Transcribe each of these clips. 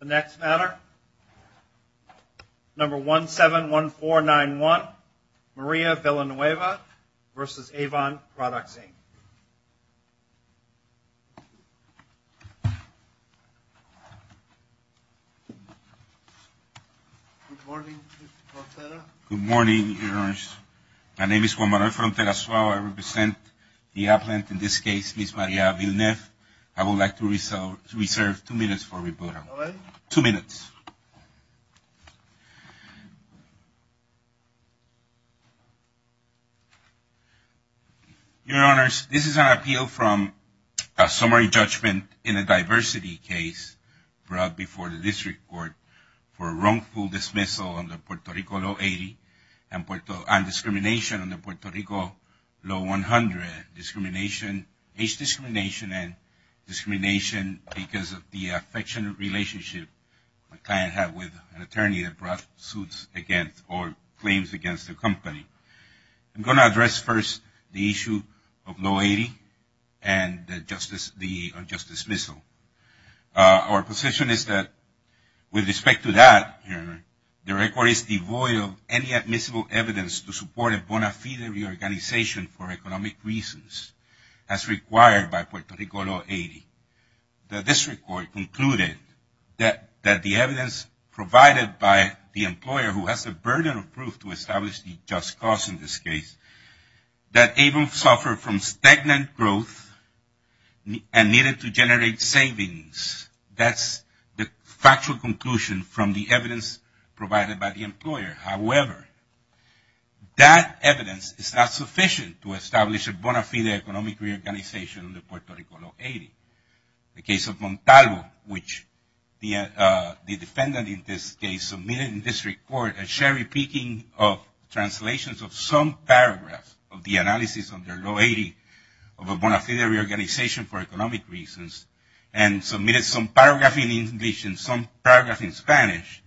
The next matter, number 171491, Maria Villanueva v. Avon Products, Inc. Good morning, Mr. Frontera. Good morning, Your Honor. My name is Juan Manuel Frontera Suave. I represent the appellant, in this case, Ms. Maria Villanueva. I would like to reserve two minutes for rebuttal. Two minutes. Your Honors, this is an appeal from a summary judgment in a diversity case brought before the district court for wrongful dismissal under Puerto Rico Law 80 and discrimination under Puerto Rico Law 100, discrimination, age discrimination, and discrimination because of the affectionate relationship my client had with an attorney that brought suits against or claims against the company. I'm going to address first the issue of Law 80 and the unjust dismissal. Our position is that with respect to that, Your Honor, the record is devoid of any admissible evidence to support a bona fide reorganization for economic reasons as required by Puerto Rico Law 80. The district court concluded that the evidence provided by the employer who has the burden of proof to establish the just cause in this case, that Avon suffered from stagnant growth and needed to generate savings. That's the factual conclusion from the evidence provided by the employer. However, that evidence is not sufficient to establish a bona fide economic reorganization under Puerto Rico Law 80. The case of Montalvo, which the defendant in this case submitted in this report, a sherry picking of translations of some paragraphs of the analysis under Law 80 of a bona fide reorganization for economic reasons and submitted some paragraph in English and some paragraph in Spanish.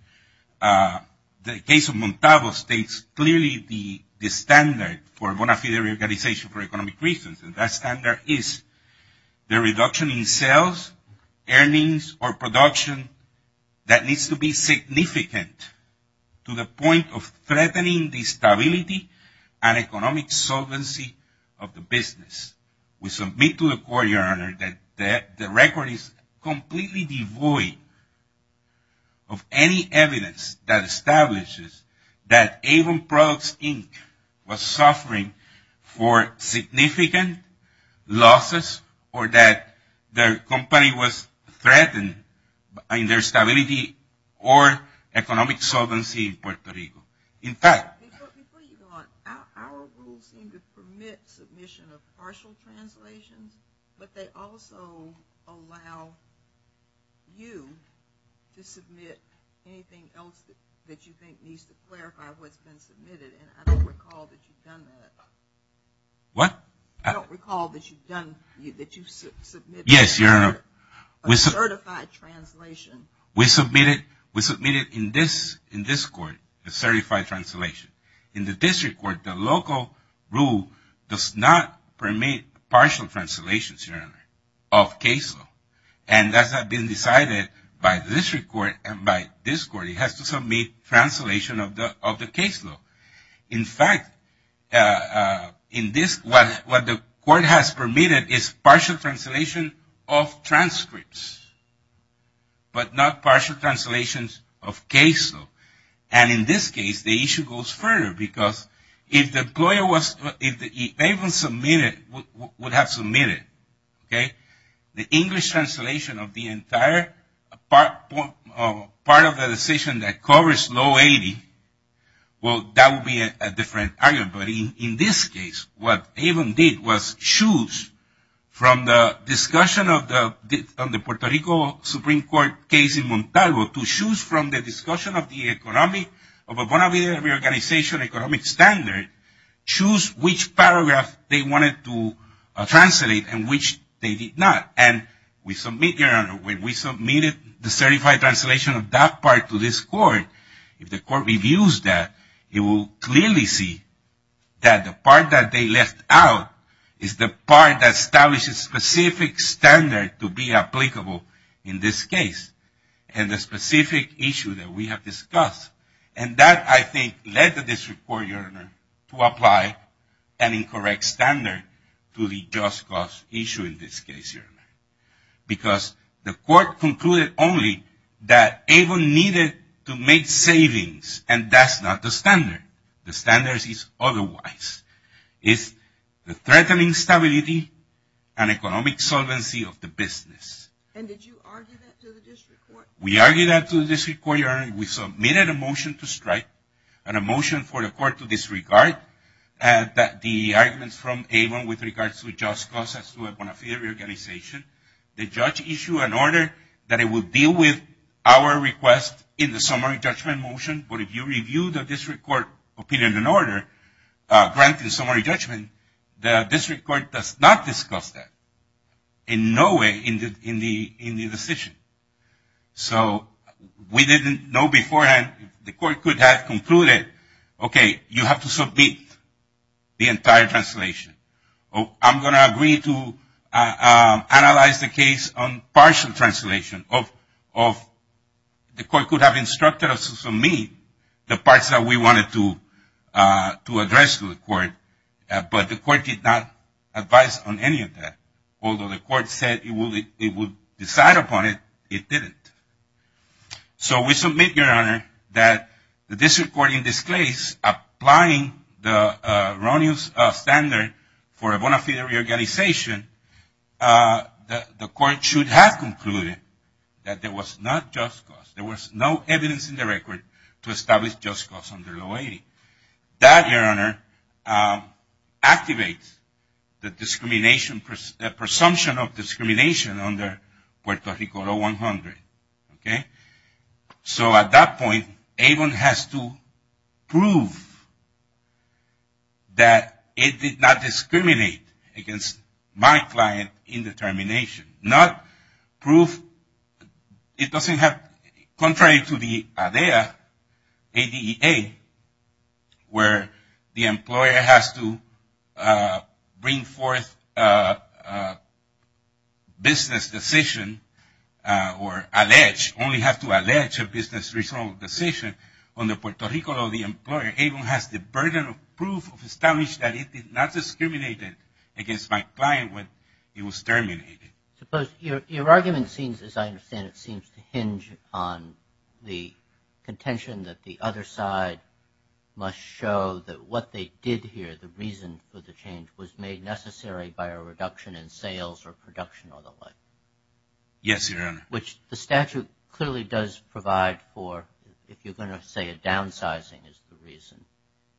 The case of Montalvo states clearly the standard for bona fide reorganization for economic reasons, and that standard is the reduction in sales, earnings, or production that needs to be significant to the point of threatening the stability and economic solvency of the business. We submit to the court, Your Honor, that the record is completely devoid of any evidence that establishes that Avon Products, Inc. was suffering for significant losses or that their company was threatened in their stability or economic solvency in Puerto Rico. Before you go on, our rules seem to permit submission of partial translations, but they also allow you to submit anything else that you think needs to clarify what's been submitted, and I don't recall that you've done that. What? I don't recall that you've submitted a certified translation. We submitted in this court a certified translation. In the district court, the local rule does not permit partial translations, Your Honor, of caseload, and that has been decided by the district court and by this court. It has to submit translation of the caseload. In fact, what the court has permitted is partial translation of transcripts, but not partial translations of caseload. And in this case, the issue goes further because if the employer was, if Avon submitted, would have submitted, okay, the English translation of the entire part of the decision that covers low 80, well, that would be a different argument. But in this case, what Avon did was choose from the discussion of the Puerto Rico Supreme Court case in Montalvo, to choose from the discussion of the economic, of a bona fide reorganization economic standard, choose which paragraph they wanted to translate and which they did not. And we submit, Your Honor, when we submitted the certified translation of that part to this court, if the court reviews that, it will clearly see that the part that they left out is the part that establishes specific standard to be applicable in this case and the specific issue that we have discussed. And that, I think, led the district court, Your Honor, to apply an incorrect standard to the just cause issue in this case, Your Honor. Because the court concluded only that Avon needed to make savings and that's not the standard. The standard is otherwise. It's the threatening stability and economic solvency of the business. And did you argue that to the district court? We argued that to the district court, Your Honor, and we submitted a motion to strike, and a motion for the court to disregard the arguments from Avon with regards to a just cause as to a bona fide reorganization. The judge issued an order that it would deal with our request in the summary judgment motion, but if you review the district court opinion and order, granted summary judgment, the district court does not discuss that in no way in the decision. So we didn't know beforehand. The court could have concluded, okay, you have to submit the entire translation. I'm going to agree to analyze the case on partial translation. The court could have instructed us to submit the parts that we wanted to address to the court, but the court did not advise on any of that. Although the court said it would decide upon it, it didn't. So we submit, Your Honor, that the district court in this case applying the erroneous standard for a bona fide reorganization, the court should have concluded that there was not just cause. There was no evidence in the record to establish just cause under law 80. That, Your Honor, activates the presumption of discrimination under Puerto Rico Law 100. Okay? So at that point, AVEN has to prove that it did not discriminate against my client in determination. Not prove, it doesn't have, contrary to the ADA, where the employer has to bring forth a business decision or allege, only have to allege a business decision under Puerto Rico Law, AVEN has the burden of proof to establish that it did not discriminate against my client when it was terminated. Suppose your argument seems, as I understand it, seems to hinge on the contention that the other side must show that what they did here, the reason for the change, was made necessary by a reduction in sales or production or the like. Yes, Your Honor. Which the statute clearly does provide for, if you're going to say a downsizing is the reason.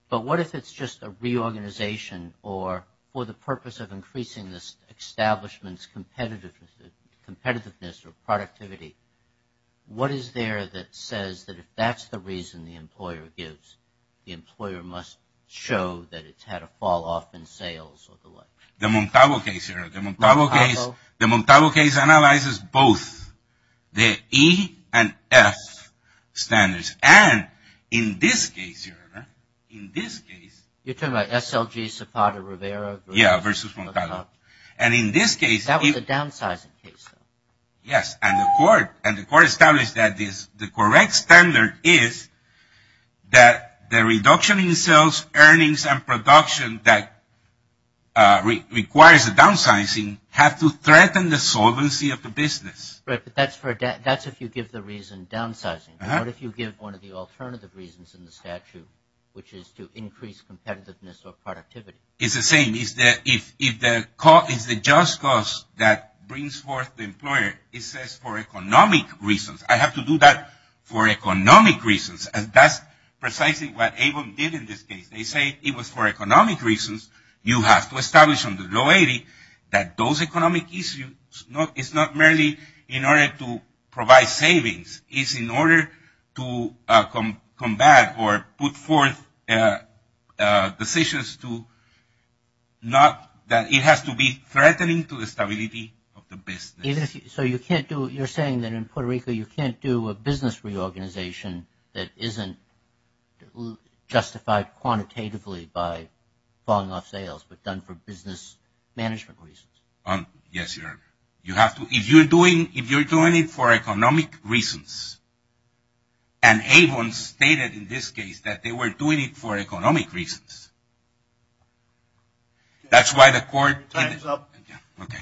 But what if it's just a reorganization or for the purpose of increasing this establishment's competitiveness or productivity? What is there that says that if that's the reason the employer gives, the employer must show that it's had a fall off in sales or the like? The Montalvo case, Your Honor. The Montalvo case. Montalvo? Yes. The E and F standards. And in this case, Your Honor, in this case. You're talking about SLG Zapata Rivera versus Montalvo? Yeah, versus Montalvo. And in this case. That was a downsizing case, though. Yes. And the court established that the correct standard is that the reduction in sales, earnings, and production that requires a downsizing have to threaten the solvency of the business. Right. But that's if you give the reason downsizing. What if you give one of the alternative reasons in the statute, which is to increase competitiveness or productivity? It's the same. It's the just cause that brings forth the employer. It says for economic reasons. I have to do that for economic reasons. And that's precisely what ABO did in this case. They say it was for economic reasons. You have to establish under the law 80 that those economic issues is not merely in order to provide savings. It's in order to combat or put forth decisions to not that it has to be threatening to the stability of the business. So you can't do it. You're saying that in Puerto Rico you can't do a business reorganization that isn't justified quantitatively by falling off sales, but done for business management reasons. Yes. You have to. If you're doing it for economic reasons, and ABO stated in this case that they were doing it for economic reasons. That's why the court. Time's up. Okay.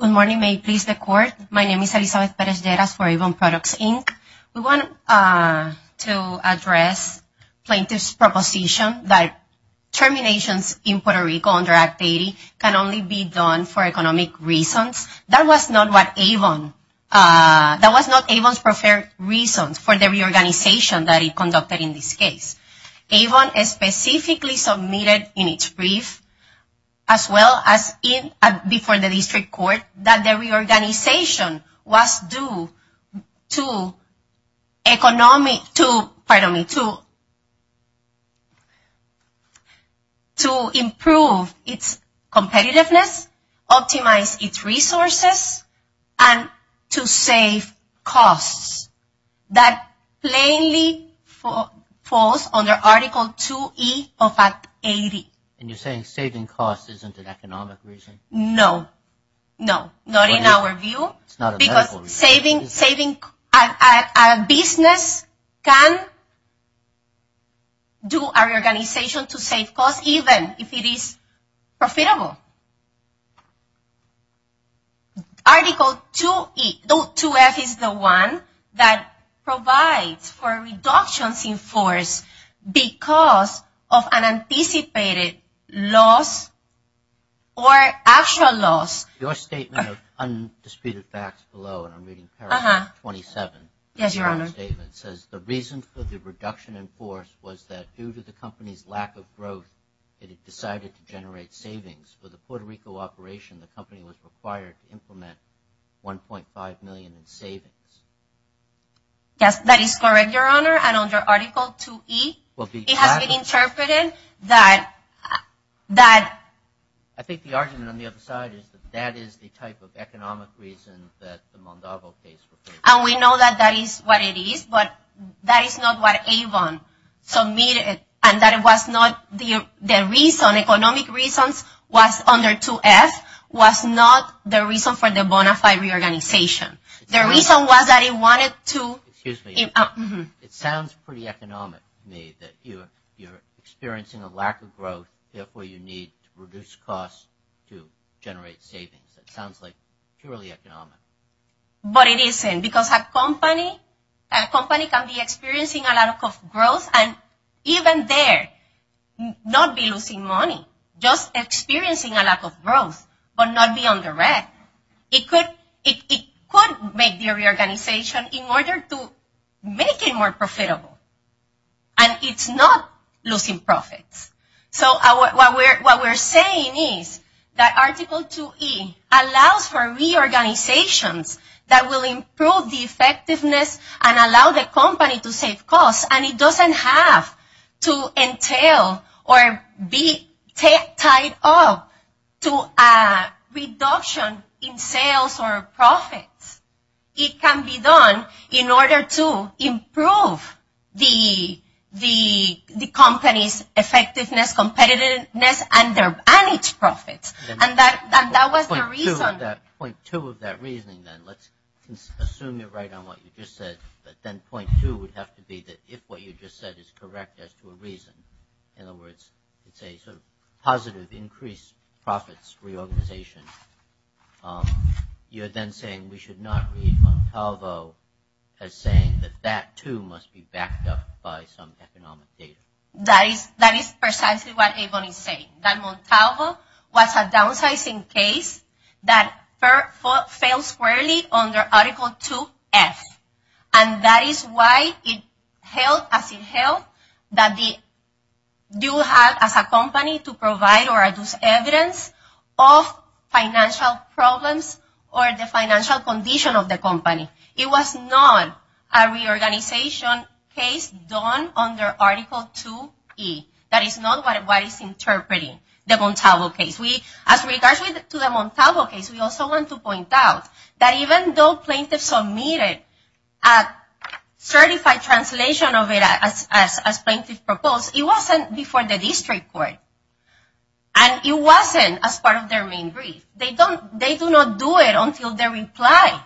Good morning. May it please the court. My name is Elizabeth Perez-Lleras for Avon Products, Inc. We want to address plaintiff's proposition that terminations in Puerto Rico under Act 80 can only be done for economic reasons. That was not Avon's preferred reasons for the reorganization that it conducted in this case. Avon specifically submitted in its brief, as well as before the district court, that the reorganization was due to economic – pardon me, to improve its competitiveness, optimize its resources, and to save costs. That plainly falls under Article 2E of Act 80. And you're saying saving costs isn't an economic reason? No. No. Not in our view. It's not a medical reason. Because saving – a business can do a reorganization to save costs even if it is profitable. Article 2F is the one that provides for reductions in force because of an anticipated loss or actual loss. Your statement of undisputed facts below, and I'm reading paragraph 27. Yes, Your Honor. It says, the reason for the reduction in force was that due to the company's lack of growth, it had decided to generate savings. For the Puerto Rico operation, the company was required to implement $1.5 million in savings. Yes, that is correct, Your Honor. And under Article 2E, it has been interpreted that – I think the argument on the other side is that that is the type of economic reason that the Mondalvo case requires. And we know that that is what it is, but that is not what Avon submitted. And that it was not – the reason, economic reasons, was under 2F, was not the reason for the bona fide reorganization. The reason was that it wanted to – Excuse me. It sounds pretty economic to me that you're experiencing a lack of growth, therefore you need to reduce costs to generate savings. That sounds like purely economic. But it isn't, because a company can be experiencing a lack of growth, and even there, not be losing money, just experiencing a lack of growth, but not be on the red. It could make the reorganization in order to make it more profitable. And it's not losing profits. So what we're saying is that Article 2E allows for reorganizations that will improve the effectiveness and allow the company to save costs. And it doesn't have to entail or be tied up to a reduction in sales or profits. It can be done in order to improve the company's effectiveness, competitiveness, and its profits. And that was the reason. Point two of that reasoning, then, let's assume you're right on what you just said, but then point two would have to be that if what you just said is correct as to a reason, in other words, it's a sort of positive increased profits reorganization, you're then saying we should not read Montalvo as saying that that, too, must be backed up by some economic data. That is precisely what Abon is saying. That Montalvo was a downsizing case that fell squarely under Article 2F. And that is why it held as it held that they do have, as a company, to provide or adduce evidence of financial problems or the financial condition of the company. It was not a reorganization case done under Article 2E. That is not what is interpreting the Montalvo case. As regards to the Montalvo case, we also want to point out that even though plaintiffs submitted a certified translation of it as plaintiffs proposed, it wasn't before the district court. And it wasn't as part of their main brief. They do not do it until they reply.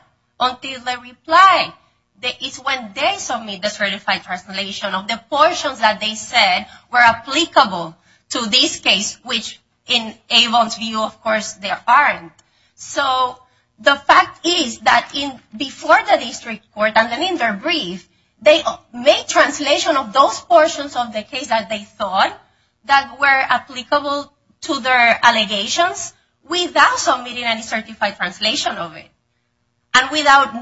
It's when they submit the certified translation of the portions that they said were applicable to this case, which in Abon's view, of course, they aren't. So the fact is that before the district court and in their brief, they made translation of those portions of the case that they thought that were applicable to their allegations without submitting any certified translation of it. And without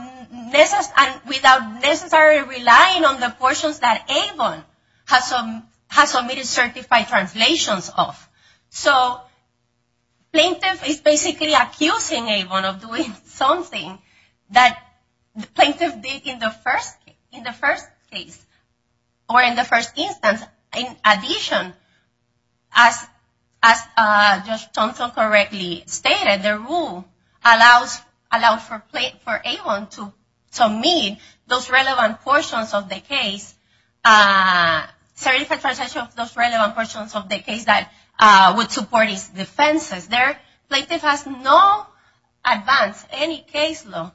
necessarily relying on the portions that Abon has submitted certified translations of. So plaintiff is basically accusing Abon of doing something that the plaintiff did in the first case. Or in the first instance, in addition, as Judge Thompson correctly stated, the rule allows for Abon to submit those relevant portions of the case, certified translation of those relevant portions of the case that would support his defenses. There, plaintiff has not advanced any case law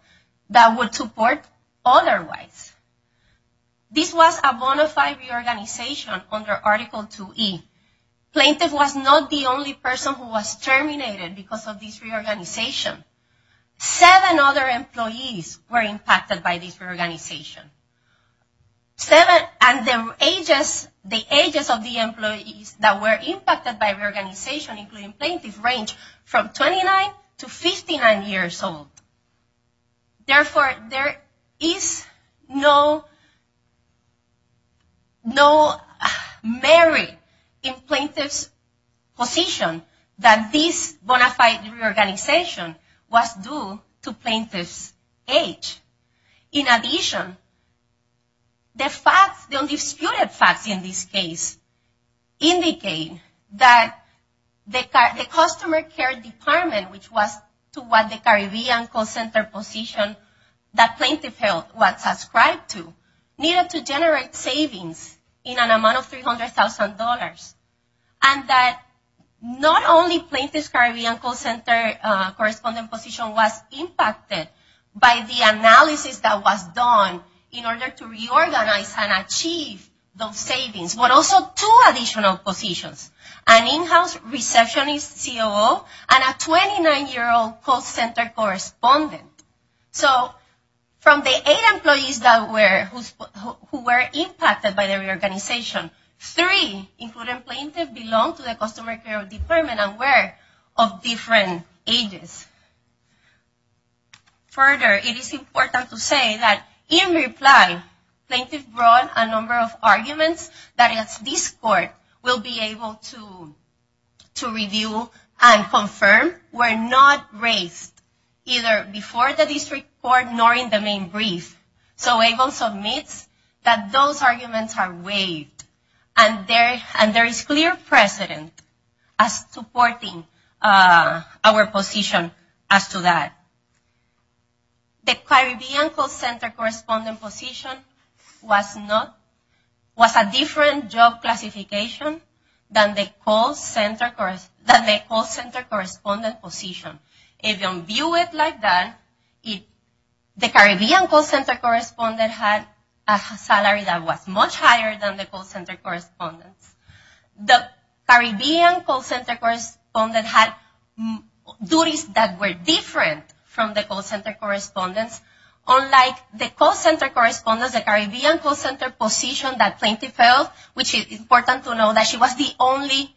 that would support otherwise. This was a bona fide reorganization under Article 2E. Plaintiff was not the only person who was terminated because of this reorganization. Seven other employees were impacted by this reorganization. Seven, and the ages of the employees that were impacted by reorganization, including plaintiff, range from 29 to 59 years old. Therefore, there is no merit in plaintiff's position that this bona fide reorganization was due to plaintiff's age. In addition, the facts, the undisputed facts in this case, indicate that the customer care department, which was to what the Caribbean call center position that plaintiff held was subscribed to, needed to generate savings in an amount of $300,000. And that not only plaintiff's Caribbean call center correspondent position was impacted by the analysis that was done in order to reorganize and achieve those savings, but also two additional positions, an in-house receptionist COO and a 29-year-old call center correspondent. So from the eight employees that were impacted by the reorganization, three, including plaintiff, belong to the customer care department and were of different ages. Further, it is important to say that in reply, plaintiff brought a number of arguments that this court will be able to review and confirm were not raised either before the district court nor in the main brief. So ABLE submits that those arguments are waived. And there is clear precedent as to supporting our position as to that. The Caribbean call center correspondent position was a different job classification than the call center correspondent position. If you view it like that, the Caribbean call center correspondent had a salary that was much higher than the call center correspondents. The Caribbean call center correspondent had duties that were different from the call center correspondents. Unlike the call center correspondents, the Caribbean call center position that plaintiff held, which is important to know that she was the only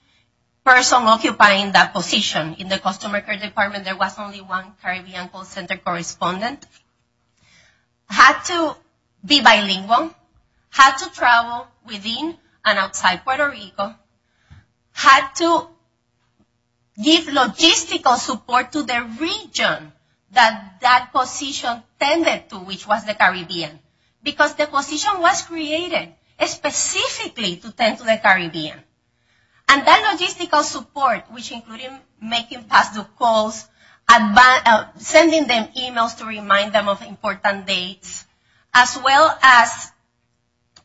person occupying that position in the customer care department, there was only one Caribbean call center correspondent, had to be bilingual, had to travel within and outside Puerto Rico, had to give logistical support to the region that that position tended to, which was the Caribbean. Because the position was created specifically to tend to the Caribbean. And that logistical support, which included making pass-through calls, sending them emails to remind them of important dates, as well as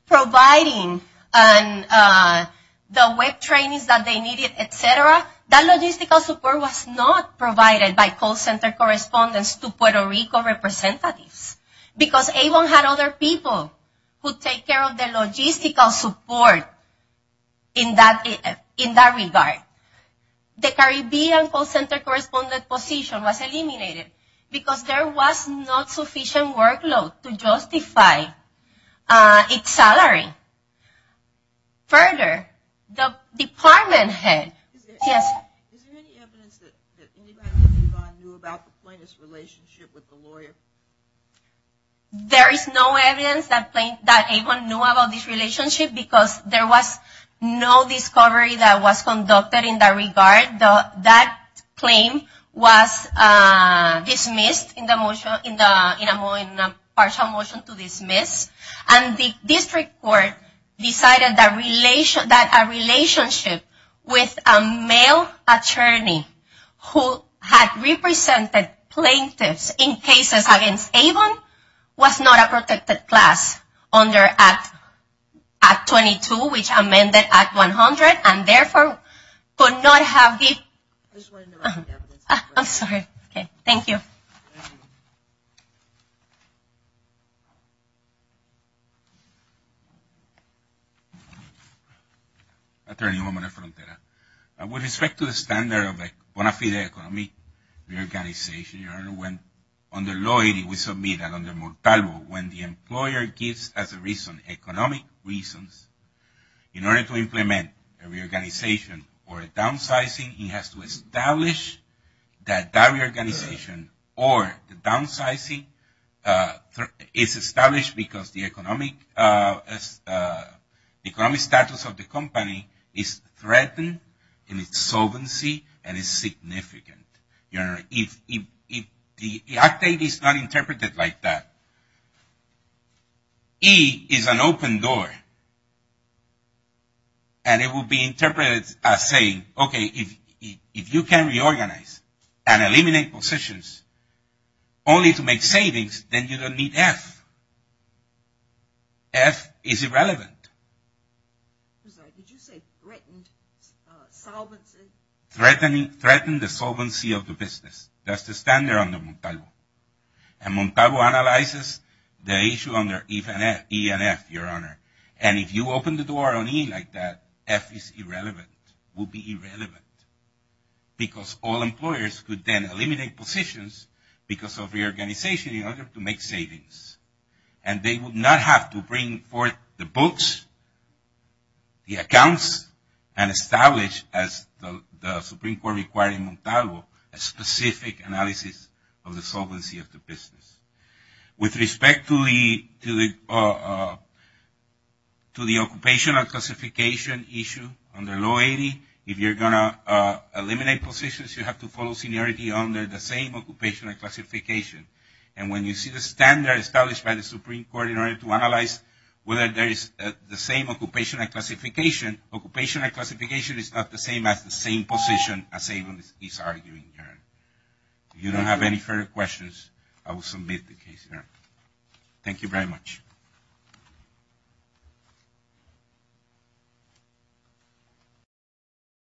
providing the web trainings that they needed, et cetera, that logistical support was not provided by call center correspondents to Puerto Rico representatives. Because ABLE had other people who take care of the logistical support in that regard. The Caribbean call center correspondent position was eliminated because there was not sufficient workload to justify its salary. Further, the department head... Yes? Is there any evidence that anybody at Avon knew about the plaintiff's relationship with the lawyer? There is no evidence that Avon knew about this relationship because there was no discovery that was conducted in that regard. That claim was dismissed in a partial motion to dismiss. And the district court decided that a relationship with a male attorney who had represented plaintiffs in cases against Avon was not a protected class under Act 22, which amended Act 100, and therefore could not have the... I just wanted to know if there was any evidence. I'm sorry. Thank you. Attorney Romero-Frontera. With respect to the standard of a bona fide economic reorganization, under law 80, we submit that under Mortalvo, when the employer gives as a reason, economic reasons, in order to implement a reorganization or a downsizing, he has to establish that that reorganization or the downsizing is established because the economic status of the company is threatened in its solvency and is significant. The Act 80 is not interpreted like that. E is an open door, and it will be interpreted as saying, okay, if you can reorganize and eliminate positions only to make savings, then you don't need F. F is irrelevant. I'm sorry. Did you say threatened solvency? Threatened the solvency of the business. That's the standard under Mortalvo. And Mortalvo analyzes the issue under E and F, Your Honor. And if you open the door on E like that, F is irrelevant. It would be irrelevant because all employers could then eliminate positions because of reorganization in order to make savings. And they would not have to bring forth the books, the accounts, and establish, as the Supreme Court required in Mortalvo, a specific analysis of the solvency of the business. With respect to the occupation and classification issue under Law 80, if you're going to eliminate positions, you have to follow seniority under the same occupation and classification. And when you see the standard established by the Supreme Court in order to analyze whether there is the same occupation and classification, occupation and classification is not the same as the same position as savings is arguing, Your Honor. If you don't have any further questions, I will submit the case here. Thank you very much.